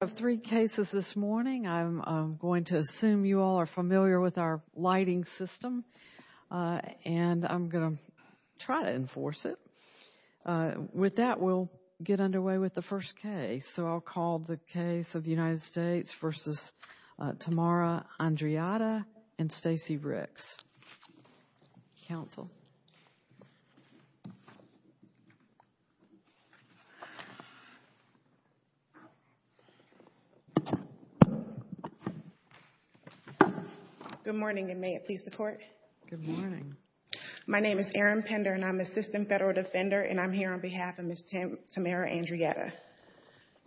of three cases this morning. I'm going to assume you all are familiar with our lighting system and I'm going to try to enforce it. With that we'll get underway with the first case. So I'll call the case of the United States v. Tamara Andreatta and Stacey Ricks. Counsel. Good morning and may it please the court. Good morning. My name is Erin Pender and I'm assistant federal defender and I'm here on behalf of Ms. Tamara Andreatta.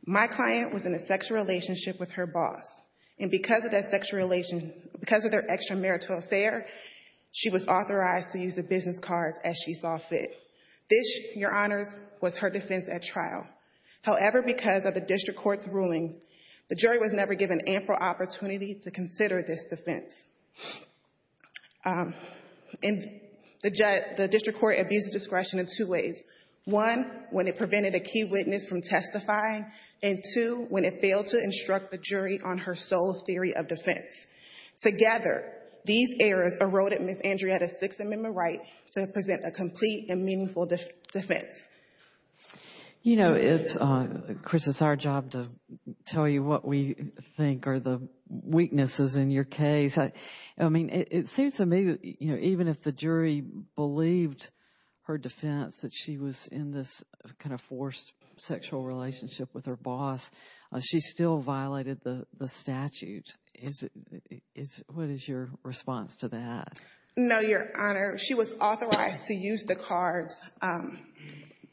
My client was in a sexual relationship with her boss and because of that sexual relation, because of their extramarital affair, she was authorized to use the business cards as she saw fit. This, your honors, was her defense at trial. However, because of the district court's rulings, the jury was never given ample opportunity to consider this defense. And the district court abused discretion in two ways. One, when it prevented a key witness from testifying and two, when it failed to instruct the jury on her sole theory of defense. Together, these errors eroded Ms. Andreatta's Sixth Amendment right to present a complete and meaningful defense. You know, it's, Chris, it's our job to tell you what we think are the weaknesses in your case. I mean, it seems to me that, you know, even if the jury believed her defense that she was in this kind of forced sexual relationship with her boss, she still violated the statute. What is your response to that? No, your honor. She was authorized to use the cards.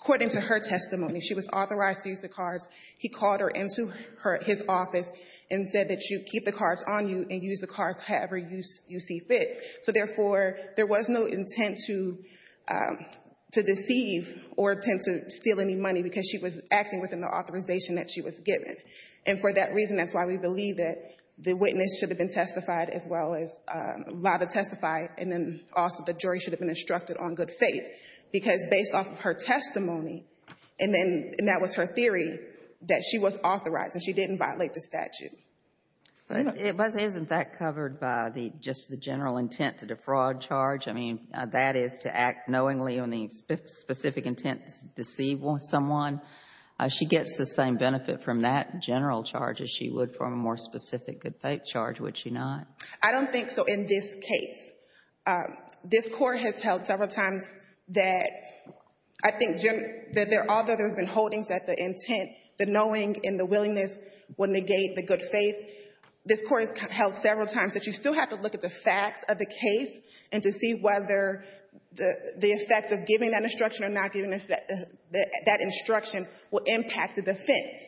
According to her testimony, she was authorized to use the cards. He called her into his office and said that you keep the cards on you and use the cards however you see fit. So therefore, there was no intent to deceive or attempt to steal any money because she was acting within the authorization that she was given. And for that reason, that's why we believe that the witness should have been testified as well as allowed to testify. And then also, the jury should have been instructed on good faith. Because based off of her testimony, and then that was her theory, that she was authorized and she didn't violate the statute. But it was in fact covered by the just the general intent to defraud charge. I mean, that is to act knowingly on the specific intent to deceive someone. She gets the same benefit from that general charge as she would from a more specific good faith charge, would she not? I don't think so in this case. This court has held several times that I think, although there's holdings that the intent, the knowing, and the willingness would negate the good faith, this court has held several times that you still have to look at the facts of the case and to see whether the effect of giving that instruction or not giving that instruction will impact the defense.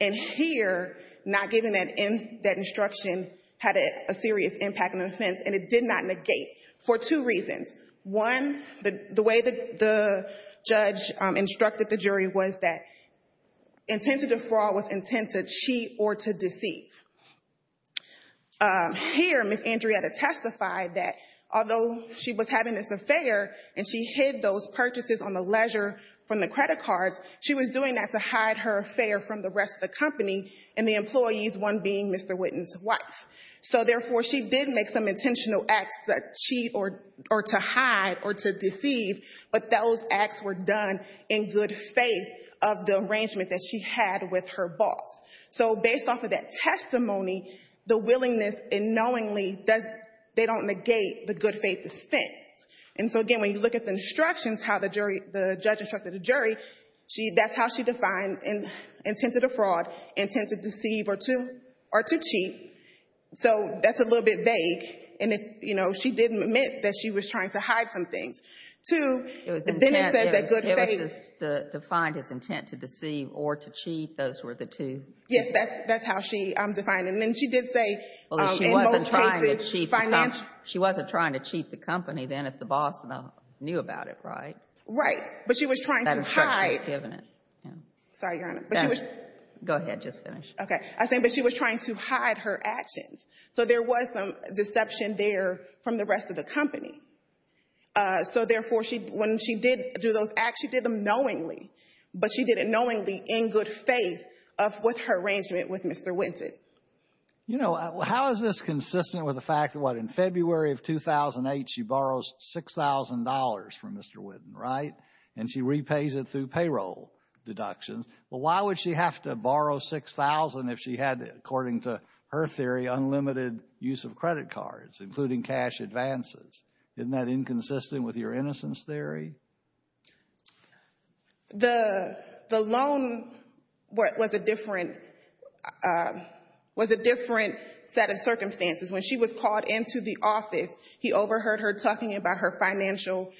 And here, not giving that instruction had a serious impact on the One, the way that the judge instructed the jury was that intent to defraud was intent to cheat or to deceive. Here, Ms. Andrietta testified that although she was having this affair and she hid those purchases on the leisure from the credit cards, she was doing that to hide her affair from the rest of the company and the employees, one being Mr. Whitten's wife. So therefore, she did make some intentional acts to cheat or to hide or to deceive, but those acts were done in good faith of the arrangement that she had with her boss. So based off of that testimony, the willingness and knowingly, they don't negate the good faith defense. And so again, when you look at the instructions, how the judge instructed the jury, that's how she defined intent to defraud, intent to deceive or to cheat. So that's a little bit vague. And she didn't admit that she was trying to hide some things. Two, then it says that good faith. It was defined as intent to deceive or to cheat. Those were the two. Yes, that's how she defined it. And then she did say in most cases, financially. She wasn't trying to cheat the company then if the boss knew about it, right? But she was trying to hide. Sorry, Your Honor. Go ahead. Just finish. Okay. I think she was trying to hide her actions. So there was some deception there from the rest of the company. So therefore, when she did do those acts, she did them knowingly, but she did it knowingly in good faith with her arrangement with Mr. Whitten. You know, how is this consistent with the fact that, what, in February of 2008, she borrows $6,000 from Mr. Whitten, right? And she repays it through payroll deductions. But why would she have to borrow $6,000 if she had, according to her theory, unlimited use of credit cards, including cash advances? Isn't that inconsistent with your innocence theory? The loan was a different set of circumstances. When she was called into the financial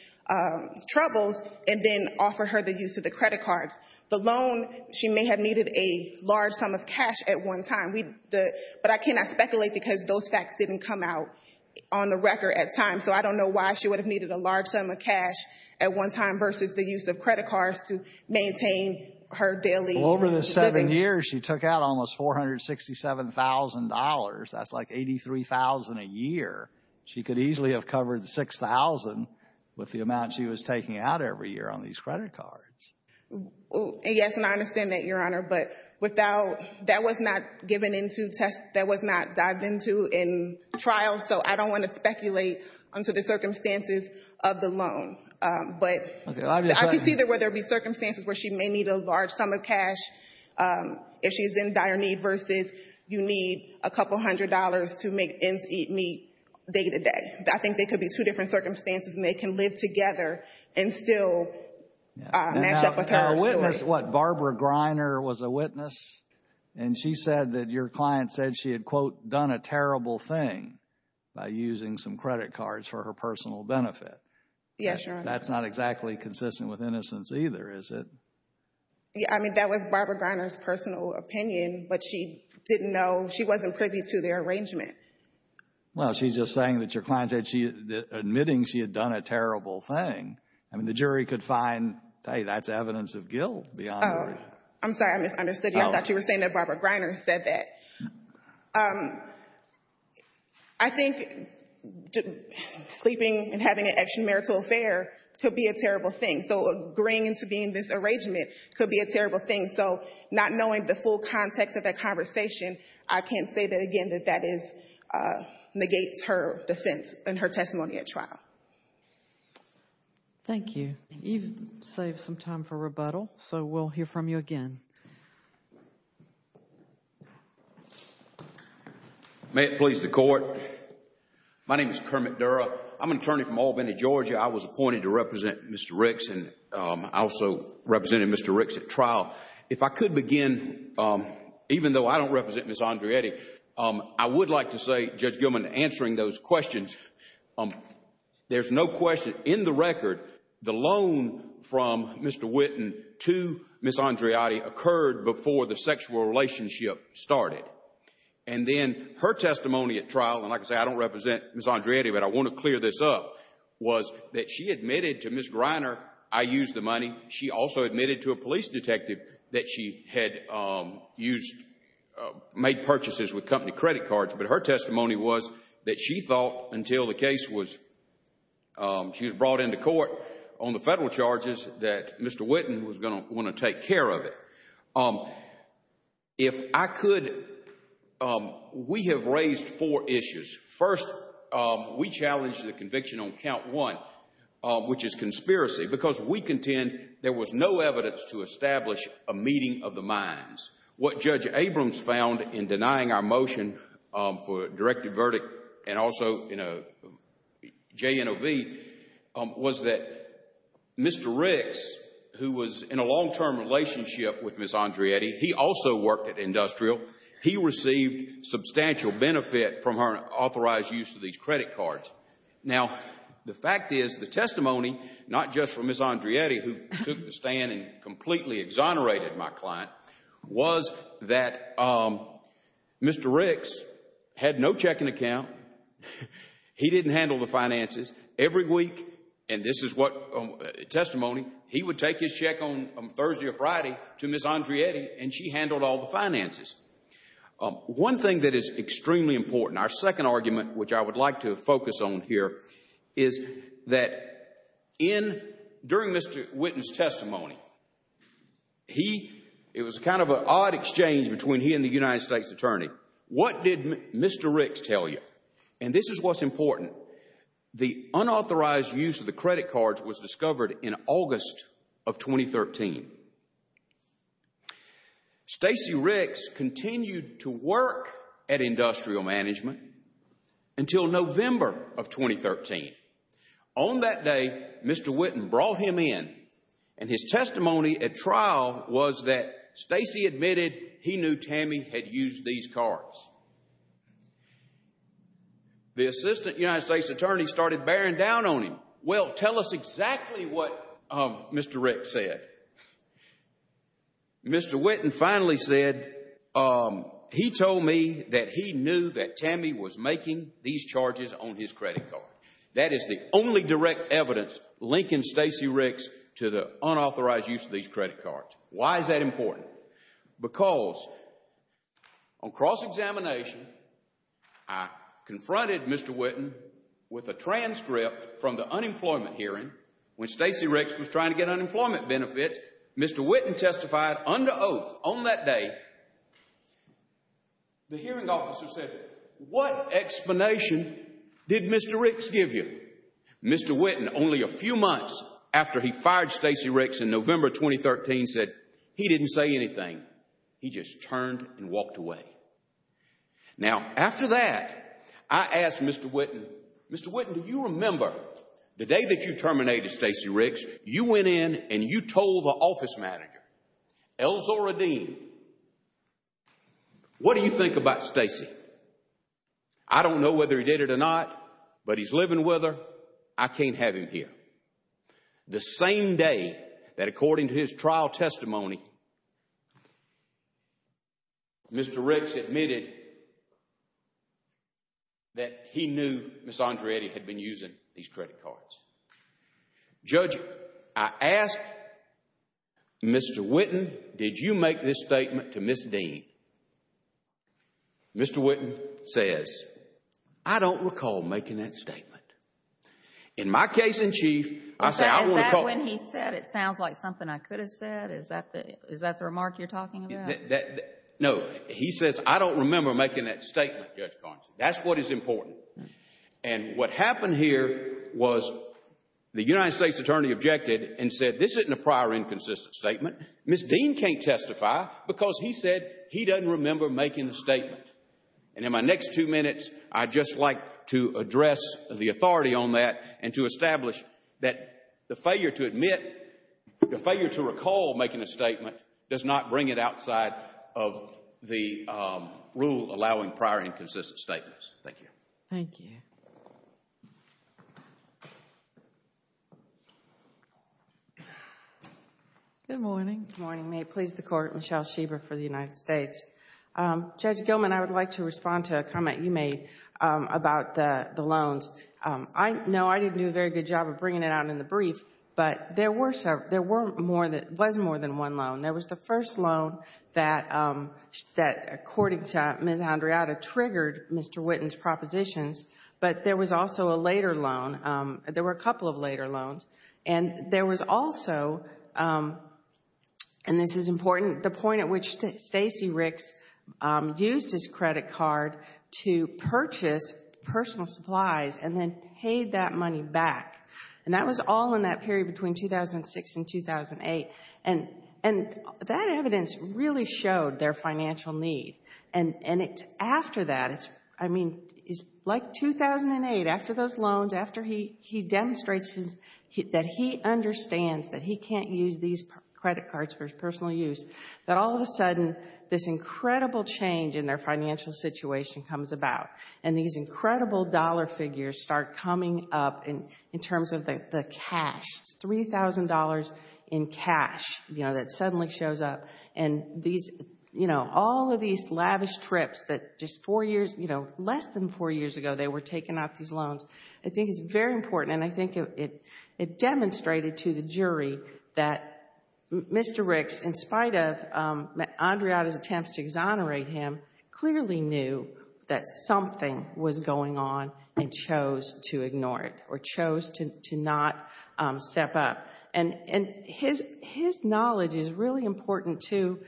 troubles and then offered her the use of the credit cards. The loan, she may have needed a large sum of cash at one time. But I cannot speculate because those facts didn't come out on the record at times. So I don't know why she would have needed a large sum of cash at one time versus the use of credit cards to maintain her daily living. Well, over the seven years, she took out almost $467,000. That's like $83,000 a year. She could easily have covered $6,000 with the amount she was taking out every year on these credit cards. Yes, and I understand that, Your Honor. But without, that was not given into test, that was not dived into in trial. So I don't want to speculate onto the circumstances of the loan. But I can see that where there'd be circumstances where she may need a large sum of cash if she's in dire need versus you need a couple hundred dollars to make ends meet day to day. I think they could be two different circumstances and they can live together and still match up with her. Now, a witness, what, Barbara Greiner was a witness? And she said that your client said she had, quote, done a terrible thing by using some credit cards for her personal benefit. Yes, Your Honor. That's not exactly consistent with innocence either, is it? Yeah, I mean, that was Barbara Greiner's personal opinion, but she didn't know, she wasn't privy to their arrangement. Well, she's just saying that your client said she, admitting she had done a terrible thing. I mean, the jury could find, hey, that's evidence of guilt, Your Honor. Oh, I'm sorry, I misunderstood you. I thought you were saying that Barbara Greiner said that. I think sleeping and having an extramarital affair could be a terrible thing. So agreeing to being in this arrangement could be a terrible thing. So not knowing the full context of that conversation, I can't say that, again, that that is, negates her defense and her testimony at trial. Thank you. You've saved some time for rebuttal, so we'll hear from you again. May it please the Court. My name is Kermit Dura. I'm an attorney from Albany, Georgia. I was appointed to represent Mr. Ricks, and I also represented Mr. Ricks at trial. If I could begin, even though I don't represent Ms. Andreotti, I would like to say, Judge Gilman, answering those questions, there's no question in the record, the loan from Mr. Whitten to Ms. Andreotti occurred before the sexual relationship started. And then her testimony at trial, and like I say, I don't represent Ms. Andreotti, but I want to clear this up, was that she admitted to Ms. Greiner, I used the money. She also admitted to a police detective that she had made purchases with company credit cards. But her testimony was that she thought until the case was, she was brought into court on the federal charges, that Mr. Whitten was going to want to take care of First, we challenged the conviction on count one, which is conspiracy, because we contend there was no evidence to establish a meeting of the minds. What Judge Abrams found in denying our motion for a directed verdict, and also in a JNOV, was that Mr. Ricks, who was in a long-term relationship with Ms. Andreotti, he also worked at Industrial, he received substantial benefit from her authorized use of these credit cards. Now, the fact is, the testimony, not just from Ms. Andreotti, who took the stand and completely exonerated my client, was that Mr. Ricks had no checking account. He didn't handle the finances. Every week, and this is what testimony, he would take his check on Thursday or Friday to Ms. Andreotti, and she handled all the finances. One thing that is extremely important, our second argument, which I would like to focus on here, is that during Mr. Whitten's testimony, it was kind of an odd exchange between he and the United States Attorney. What did Mr. Ricks tell you? And this is what's important. The unauthorized to work at Industrial Management until November of 2013. On that day, Mr. Whitten brought him in, and his testimony at trial was that Stacey admitted he knew Tammy had used these cards. The Assistant United States Attorney started bearing down on him. Well, tell us exactly what Mr. Ricks said. Mr. Whitten finally said, he told me that he knew that Tammy was making these charges on his credit card. That is the only direct evidence linking Stacey Ricks to the unauthorized use of these credit cards. Why is that important? Because on cross-examination, I confronted Mr. Whitten with a transcript from the unemployment hearing when Stacey Ricks was trying to get unemployment benefits. Mr. Whitten testified under oath on that day. The hearing officer said, what explanation did Mr. Ricks give you? Mr. Whitten, only a few months after he fired Stacey Ricks in November 2013, said he didn't say anything. He just turned and Mr. Whitten, do you remember the day that you terminated Stacey Ricks, you went in and you told the office manager, Elzora Dean, what do you think about Stacey? I don't know whether he did it or not, but he's living with her. I can't have him here. The same day that according to his trial testimony, Mr. Ricks admitted that he knew Ms. Andreetti had been using these credit cards. Judge, I asked Mr. Whitten, did you make this statement to Ms. Dean? Mr. Whitten says, I don't recall making that statement. In my case in chief, I say I don't recall. Is that when he said, it sounds like something I could have said? Is that the remark you're talking about? No, he says, I don't remember making that statement, Judge Carnes. That's what is important. And what happened here was the United States attorney objected and said, this isn't a prior inconsistent statement. Ms. Dean can't testify because he said he doesn't remember making the statement. And in my next two minutes, I'd just like to address the authority on that and to establish that the failure to admit, the failure to recall making a statement does not bring it outside of the rule allowing prior inconsistent statements. Thank you. Thank you. Good morning. Good morning. May it please the Court, Michelle Schieber for the United States. Judge Gilman, I would like to respond to a comment you made about the loans. I know I didn't do a good job of bringing it out in the brief, but there was more than one loan. There was the first loan that, according to Ms. Andrade, triggered Mr. Whitten's propositions. But there was also a later loan. There were a couple of later loans. And there was also, and this is important, the point at which Stacey Ricks used his credit card to purchase personal supplies and then paid that money back. And that was all in that period between 2006 and 2008. And that evidence really showed their financial need. And after that, I mean, it's like 2008, after those loans, after he demonstrates that he understands that he can't use these credit cards for his personal use, that all of a sudden this incredible change in their financial situation comes about. And these incredible dollar figures start coming up in terms of the cash. It's $3,000 in cash, you know, that suddenly shows up. And these, you know, all of these lavish trips that just four years, you know, less than four years ago they were taking out these loans, I think is very important. And I think it demonstrated to the jury that Mr. Ricks, in spite of Andrade's attempts to exonerate him, clearly knew that something was going on and chose to ignore it or chose to not step up. And his knowledge is really important, too,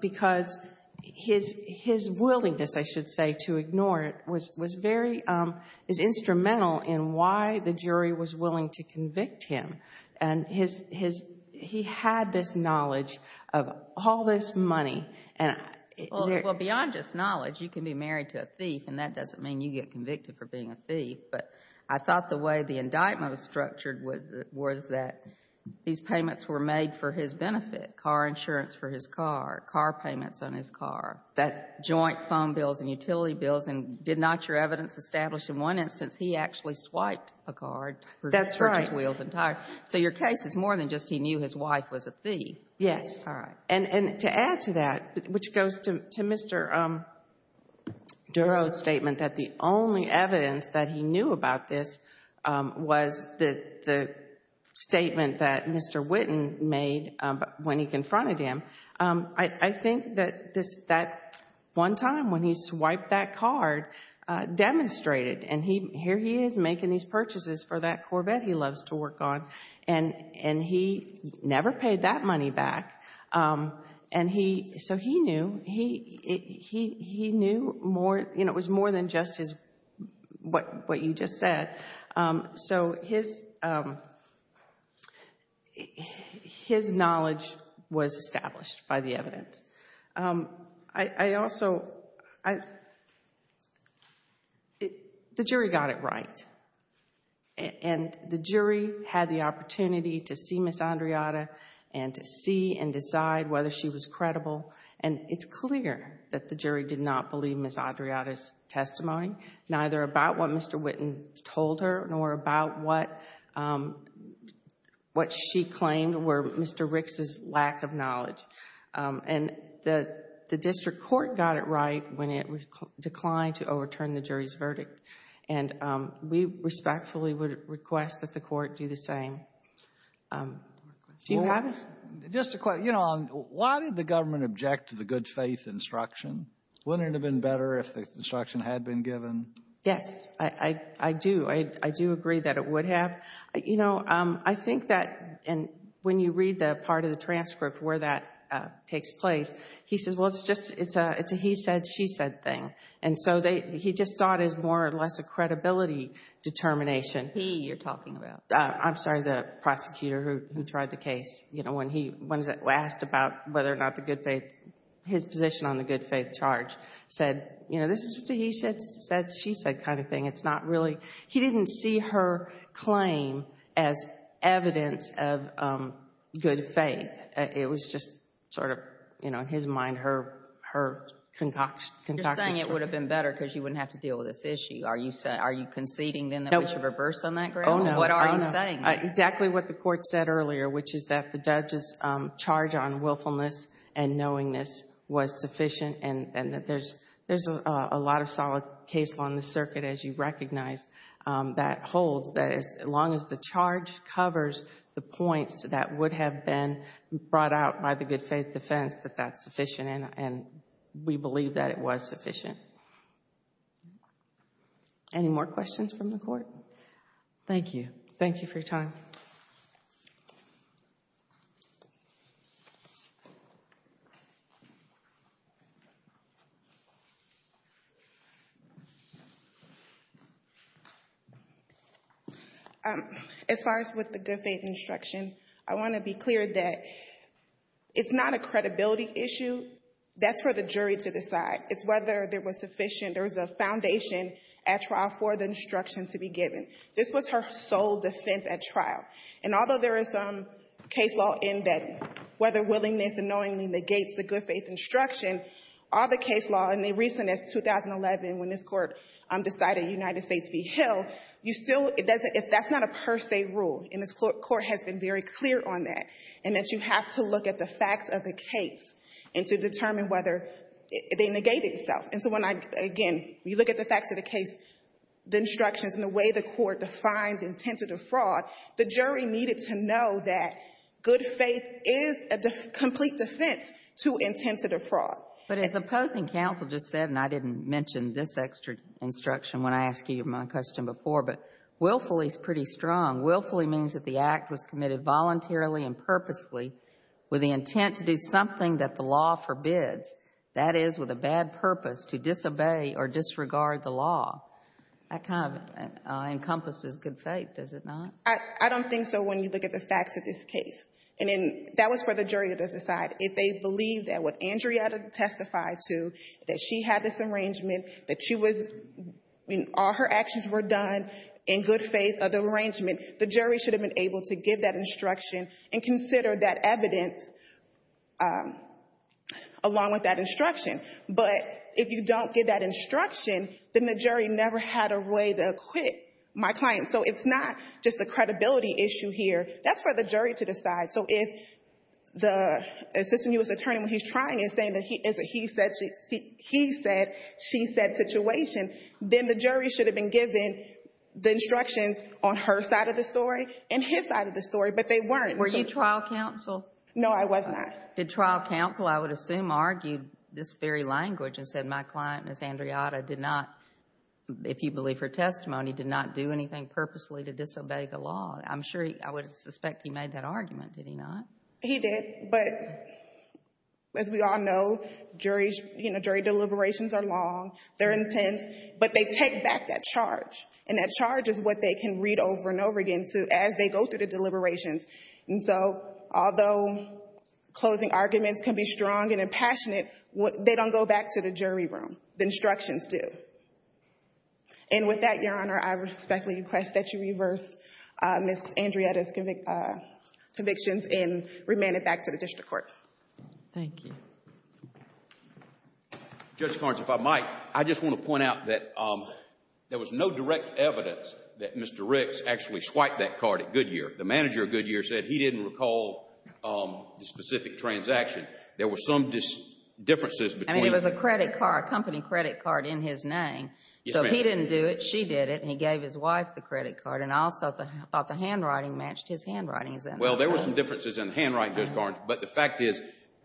because his willingness, I should say, to ignore it is instrumental in why the jury was willing to convict him. And he had this knowledge of all this money. Well, beyond just knowledge, you can be married to a thief and that doesn't mean you get convicted for being a thief. But I thought the way the indictment was structured was that these payments were made for his benefit, car insurance for his car, car payments on his car, that joint phone bills and utility bills and did not your evidence establish in one instance he actually swiped a card for his wheels and tires. So your case is more than just he knew his wife was a thief. Yes. And to add to that, which goes to Mr. Durow's statement that the only evidence that he knew about this was the statement that Mr. Whitten made when he confronted him, I think that one time when he swiped that card demonstrated, and here he is making these purchases for that money. He never paid that money back. So he knew. It was more than just what you just said. So his knowledge was established by the evidence. The jury got it right. And the jury had the opportunity to see Ms. Andreata and to see and decide whether she was credible. And it's clear that the jury did not believe Ms. Andreata's testimony, neither about what Mr. Whitten told her nor about what she claimed were Mr. Ricks's lack of knowledge. And the district court got it right when it declined to overturn the jury's verdict. And we respectfully would request that the court do the same. Do you have a question? Just a question. You know, why did the government object to the good faith instruction? Wouldn't it have been better if the instruction had been given? Yes, I do. I do agree that it would have. You know, I think that when you read the part of the transcript where that takes place, he says, well, it's just it's a he said, she said thing. And so he just saw it as more or less a credibility determination. He, you're talking about. I'm sorry, the prosecutor who tried the case, you know, when he was asked about whether or not the good faith, his position on the good faith charge said, you know, this is just a he said, said, she said kind of thing. It's not really, he didn't see her claim as evidence of good faith. It was just sort of, you know, in his mind, her concoction. You're saying it would have been better because you wouldn't have to deal with this issue. Are you saying, are you conceding then that we should reverse on that ground? What are you saying? Exactly what the court said earlier, which is that the judge's charge on willfulness and knowingness was sufficient and that there's a lot of solid case law in the circuit, as you recognize, that holds that as long as the charge covers the points that would have been brought out by the good faith defense, that that's sufficient. And we believe that it was sufficient. Any more questions from the court? Thank you. Thank you for your time. As far as with the good faith instruction, I want to be clear that it's not a credibility issue. That's for the jury to decide. It's whether there was sufficient, there was a foundation at trial for the instruction to be given. And although there is some case law in that whether willingness and knowingly negates the good faith instruction, all the case law in the recentest 2011 when this court decided United States v. Hill, you still, it doesn't, that's not a per se rule. And this court has been very clear on that. And that you have to look at the facts of the case and to determine whether they negated itself. And so when I, again, you look at the facts of the case, the instructions and the way the court defined the intent of the fraud, the jury needed to know that good faith is a complete defense to intent of the fraud. But as opposing counsel just said, and I didn't mention this extra instruction when I asked you my question before, but willfully is pretty strong. Willfully means that the act was committed voluntarily and purposely with the intent to do something that the law forbids. That is with a bad purpose to disobey or disregard the law. That kind of encompasses good faith, does it not? I don't think so when you look at the facts of this case. And that was for the jury to decide if they believe that what Andrea testified to, that she had this arrangement, that she was, all her actions were done in good faith of the arrangement, the jury should have been able to give that instruction and consider that evidence along with that instruction. But if you don't get that instruction, then the jury never had a way to acquit my client. So it's not just a credibility issue here. That's for the jury to decide. So if the assistant U.S. attorney, when he's trying and saying that he said she said situation, then the jury should have been given the instructions on her side of the story and his side of the story, but they weren't. Were you trial counsel? No, I was not. Did trial counsel, I would assume, argue this very language and said my client, Ms. Andreata, did not, if you believe her testimony, did not do anything purposely to disobey the law? I'm sure, I would suspect he made that argument, did he not? He did. But as we all know, jury deliberations are long, they're intense, but they take back that charge. And that charge is what they can read over and over again as they go through the deliberations. And so, although closing arguments can be strong and impassionate, they don't go back to the jury room. The instructions do. And with that, Your Honor, I respectfully request that you reverse Ms. Andreata's convictions and remand it back to the district court. Thank you. Judge Carnes, if I might, I just want to point out that there was no direct evidence that Mr. Ricks actually swiped that card at Goodyear. The manager of Goodyear said he didn't recall the specific transaction. There were some differences between them. I mean, it was a credit card, a company credit card in his name. So he didn't do it, she did it, and he gave his wife the credit card. And I also thought the handwriting matched his handwriting, is that what you're saying? Well, there were some differences in the handwriting, Judge Carnes, but the fact is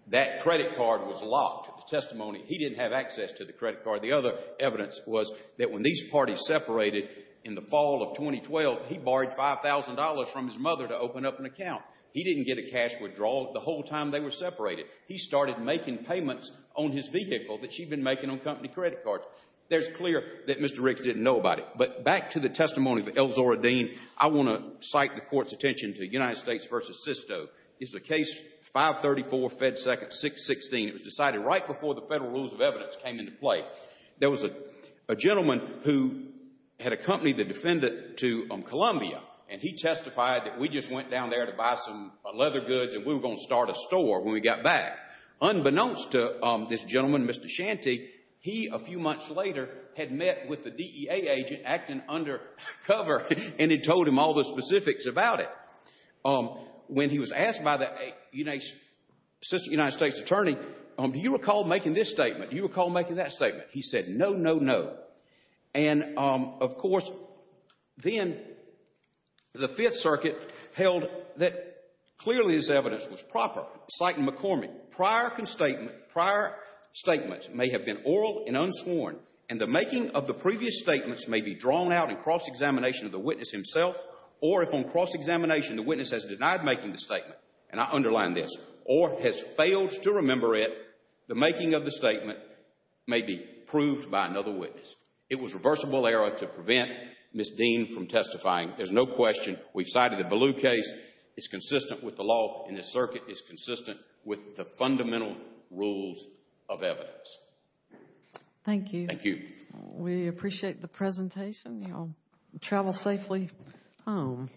that credit card was locked, the testimony. He didn't have access to the credit card. The other evidence was that when these parties separated in the fall of 2012, he borrowed $5,000 from his mother to open up an account. He didn't get a cash withdrawal the whole time they were separated. He started making payments on his vehicle that she'd been making on company credit cards. There's clear that Mr. Ricks didn't know about it. But back to the testimony of Elzora Dean, I want to cite the Court's attention to the United States v. Sisto. It's a case 534, Fed Second, 616. It was decided right before the Federal Rules of Evidence came into play. There was a gentleman who had accompanied the defendant to Columbia, and he testified that we just went down there to buy some leather goods, and we were going to start a store when we got back. Unbeknownst to this gentleman, Mr. Shanty, he, a few months later, had met with the DEA agent acting undercover, and had told him all the specifics about it. When he was asked by the United States Attorney, do you recall making this statement? He said, no, no, no. And, of course, then the Fifth Circuit held that clearly this evidence was proper. Citing McCormick, prior statement, prior statements may have been oral and unsworn, and the making of the previous statements may be drawn out in cross-examination of the witness himself, or if on cross-examination, the witness has denied making the statement, and I underline this, or has failed to remember it, the making of the statement proved by another witness. It was reversible error to prevent Ms. Dean from testifying. There's no question. We've cited the Ballou case. It's consistent with the law in this circuit. It's consistent with the fundamental rules of evidence. Thank you. Thank you. We appreciate the presentation. You all travel safely home.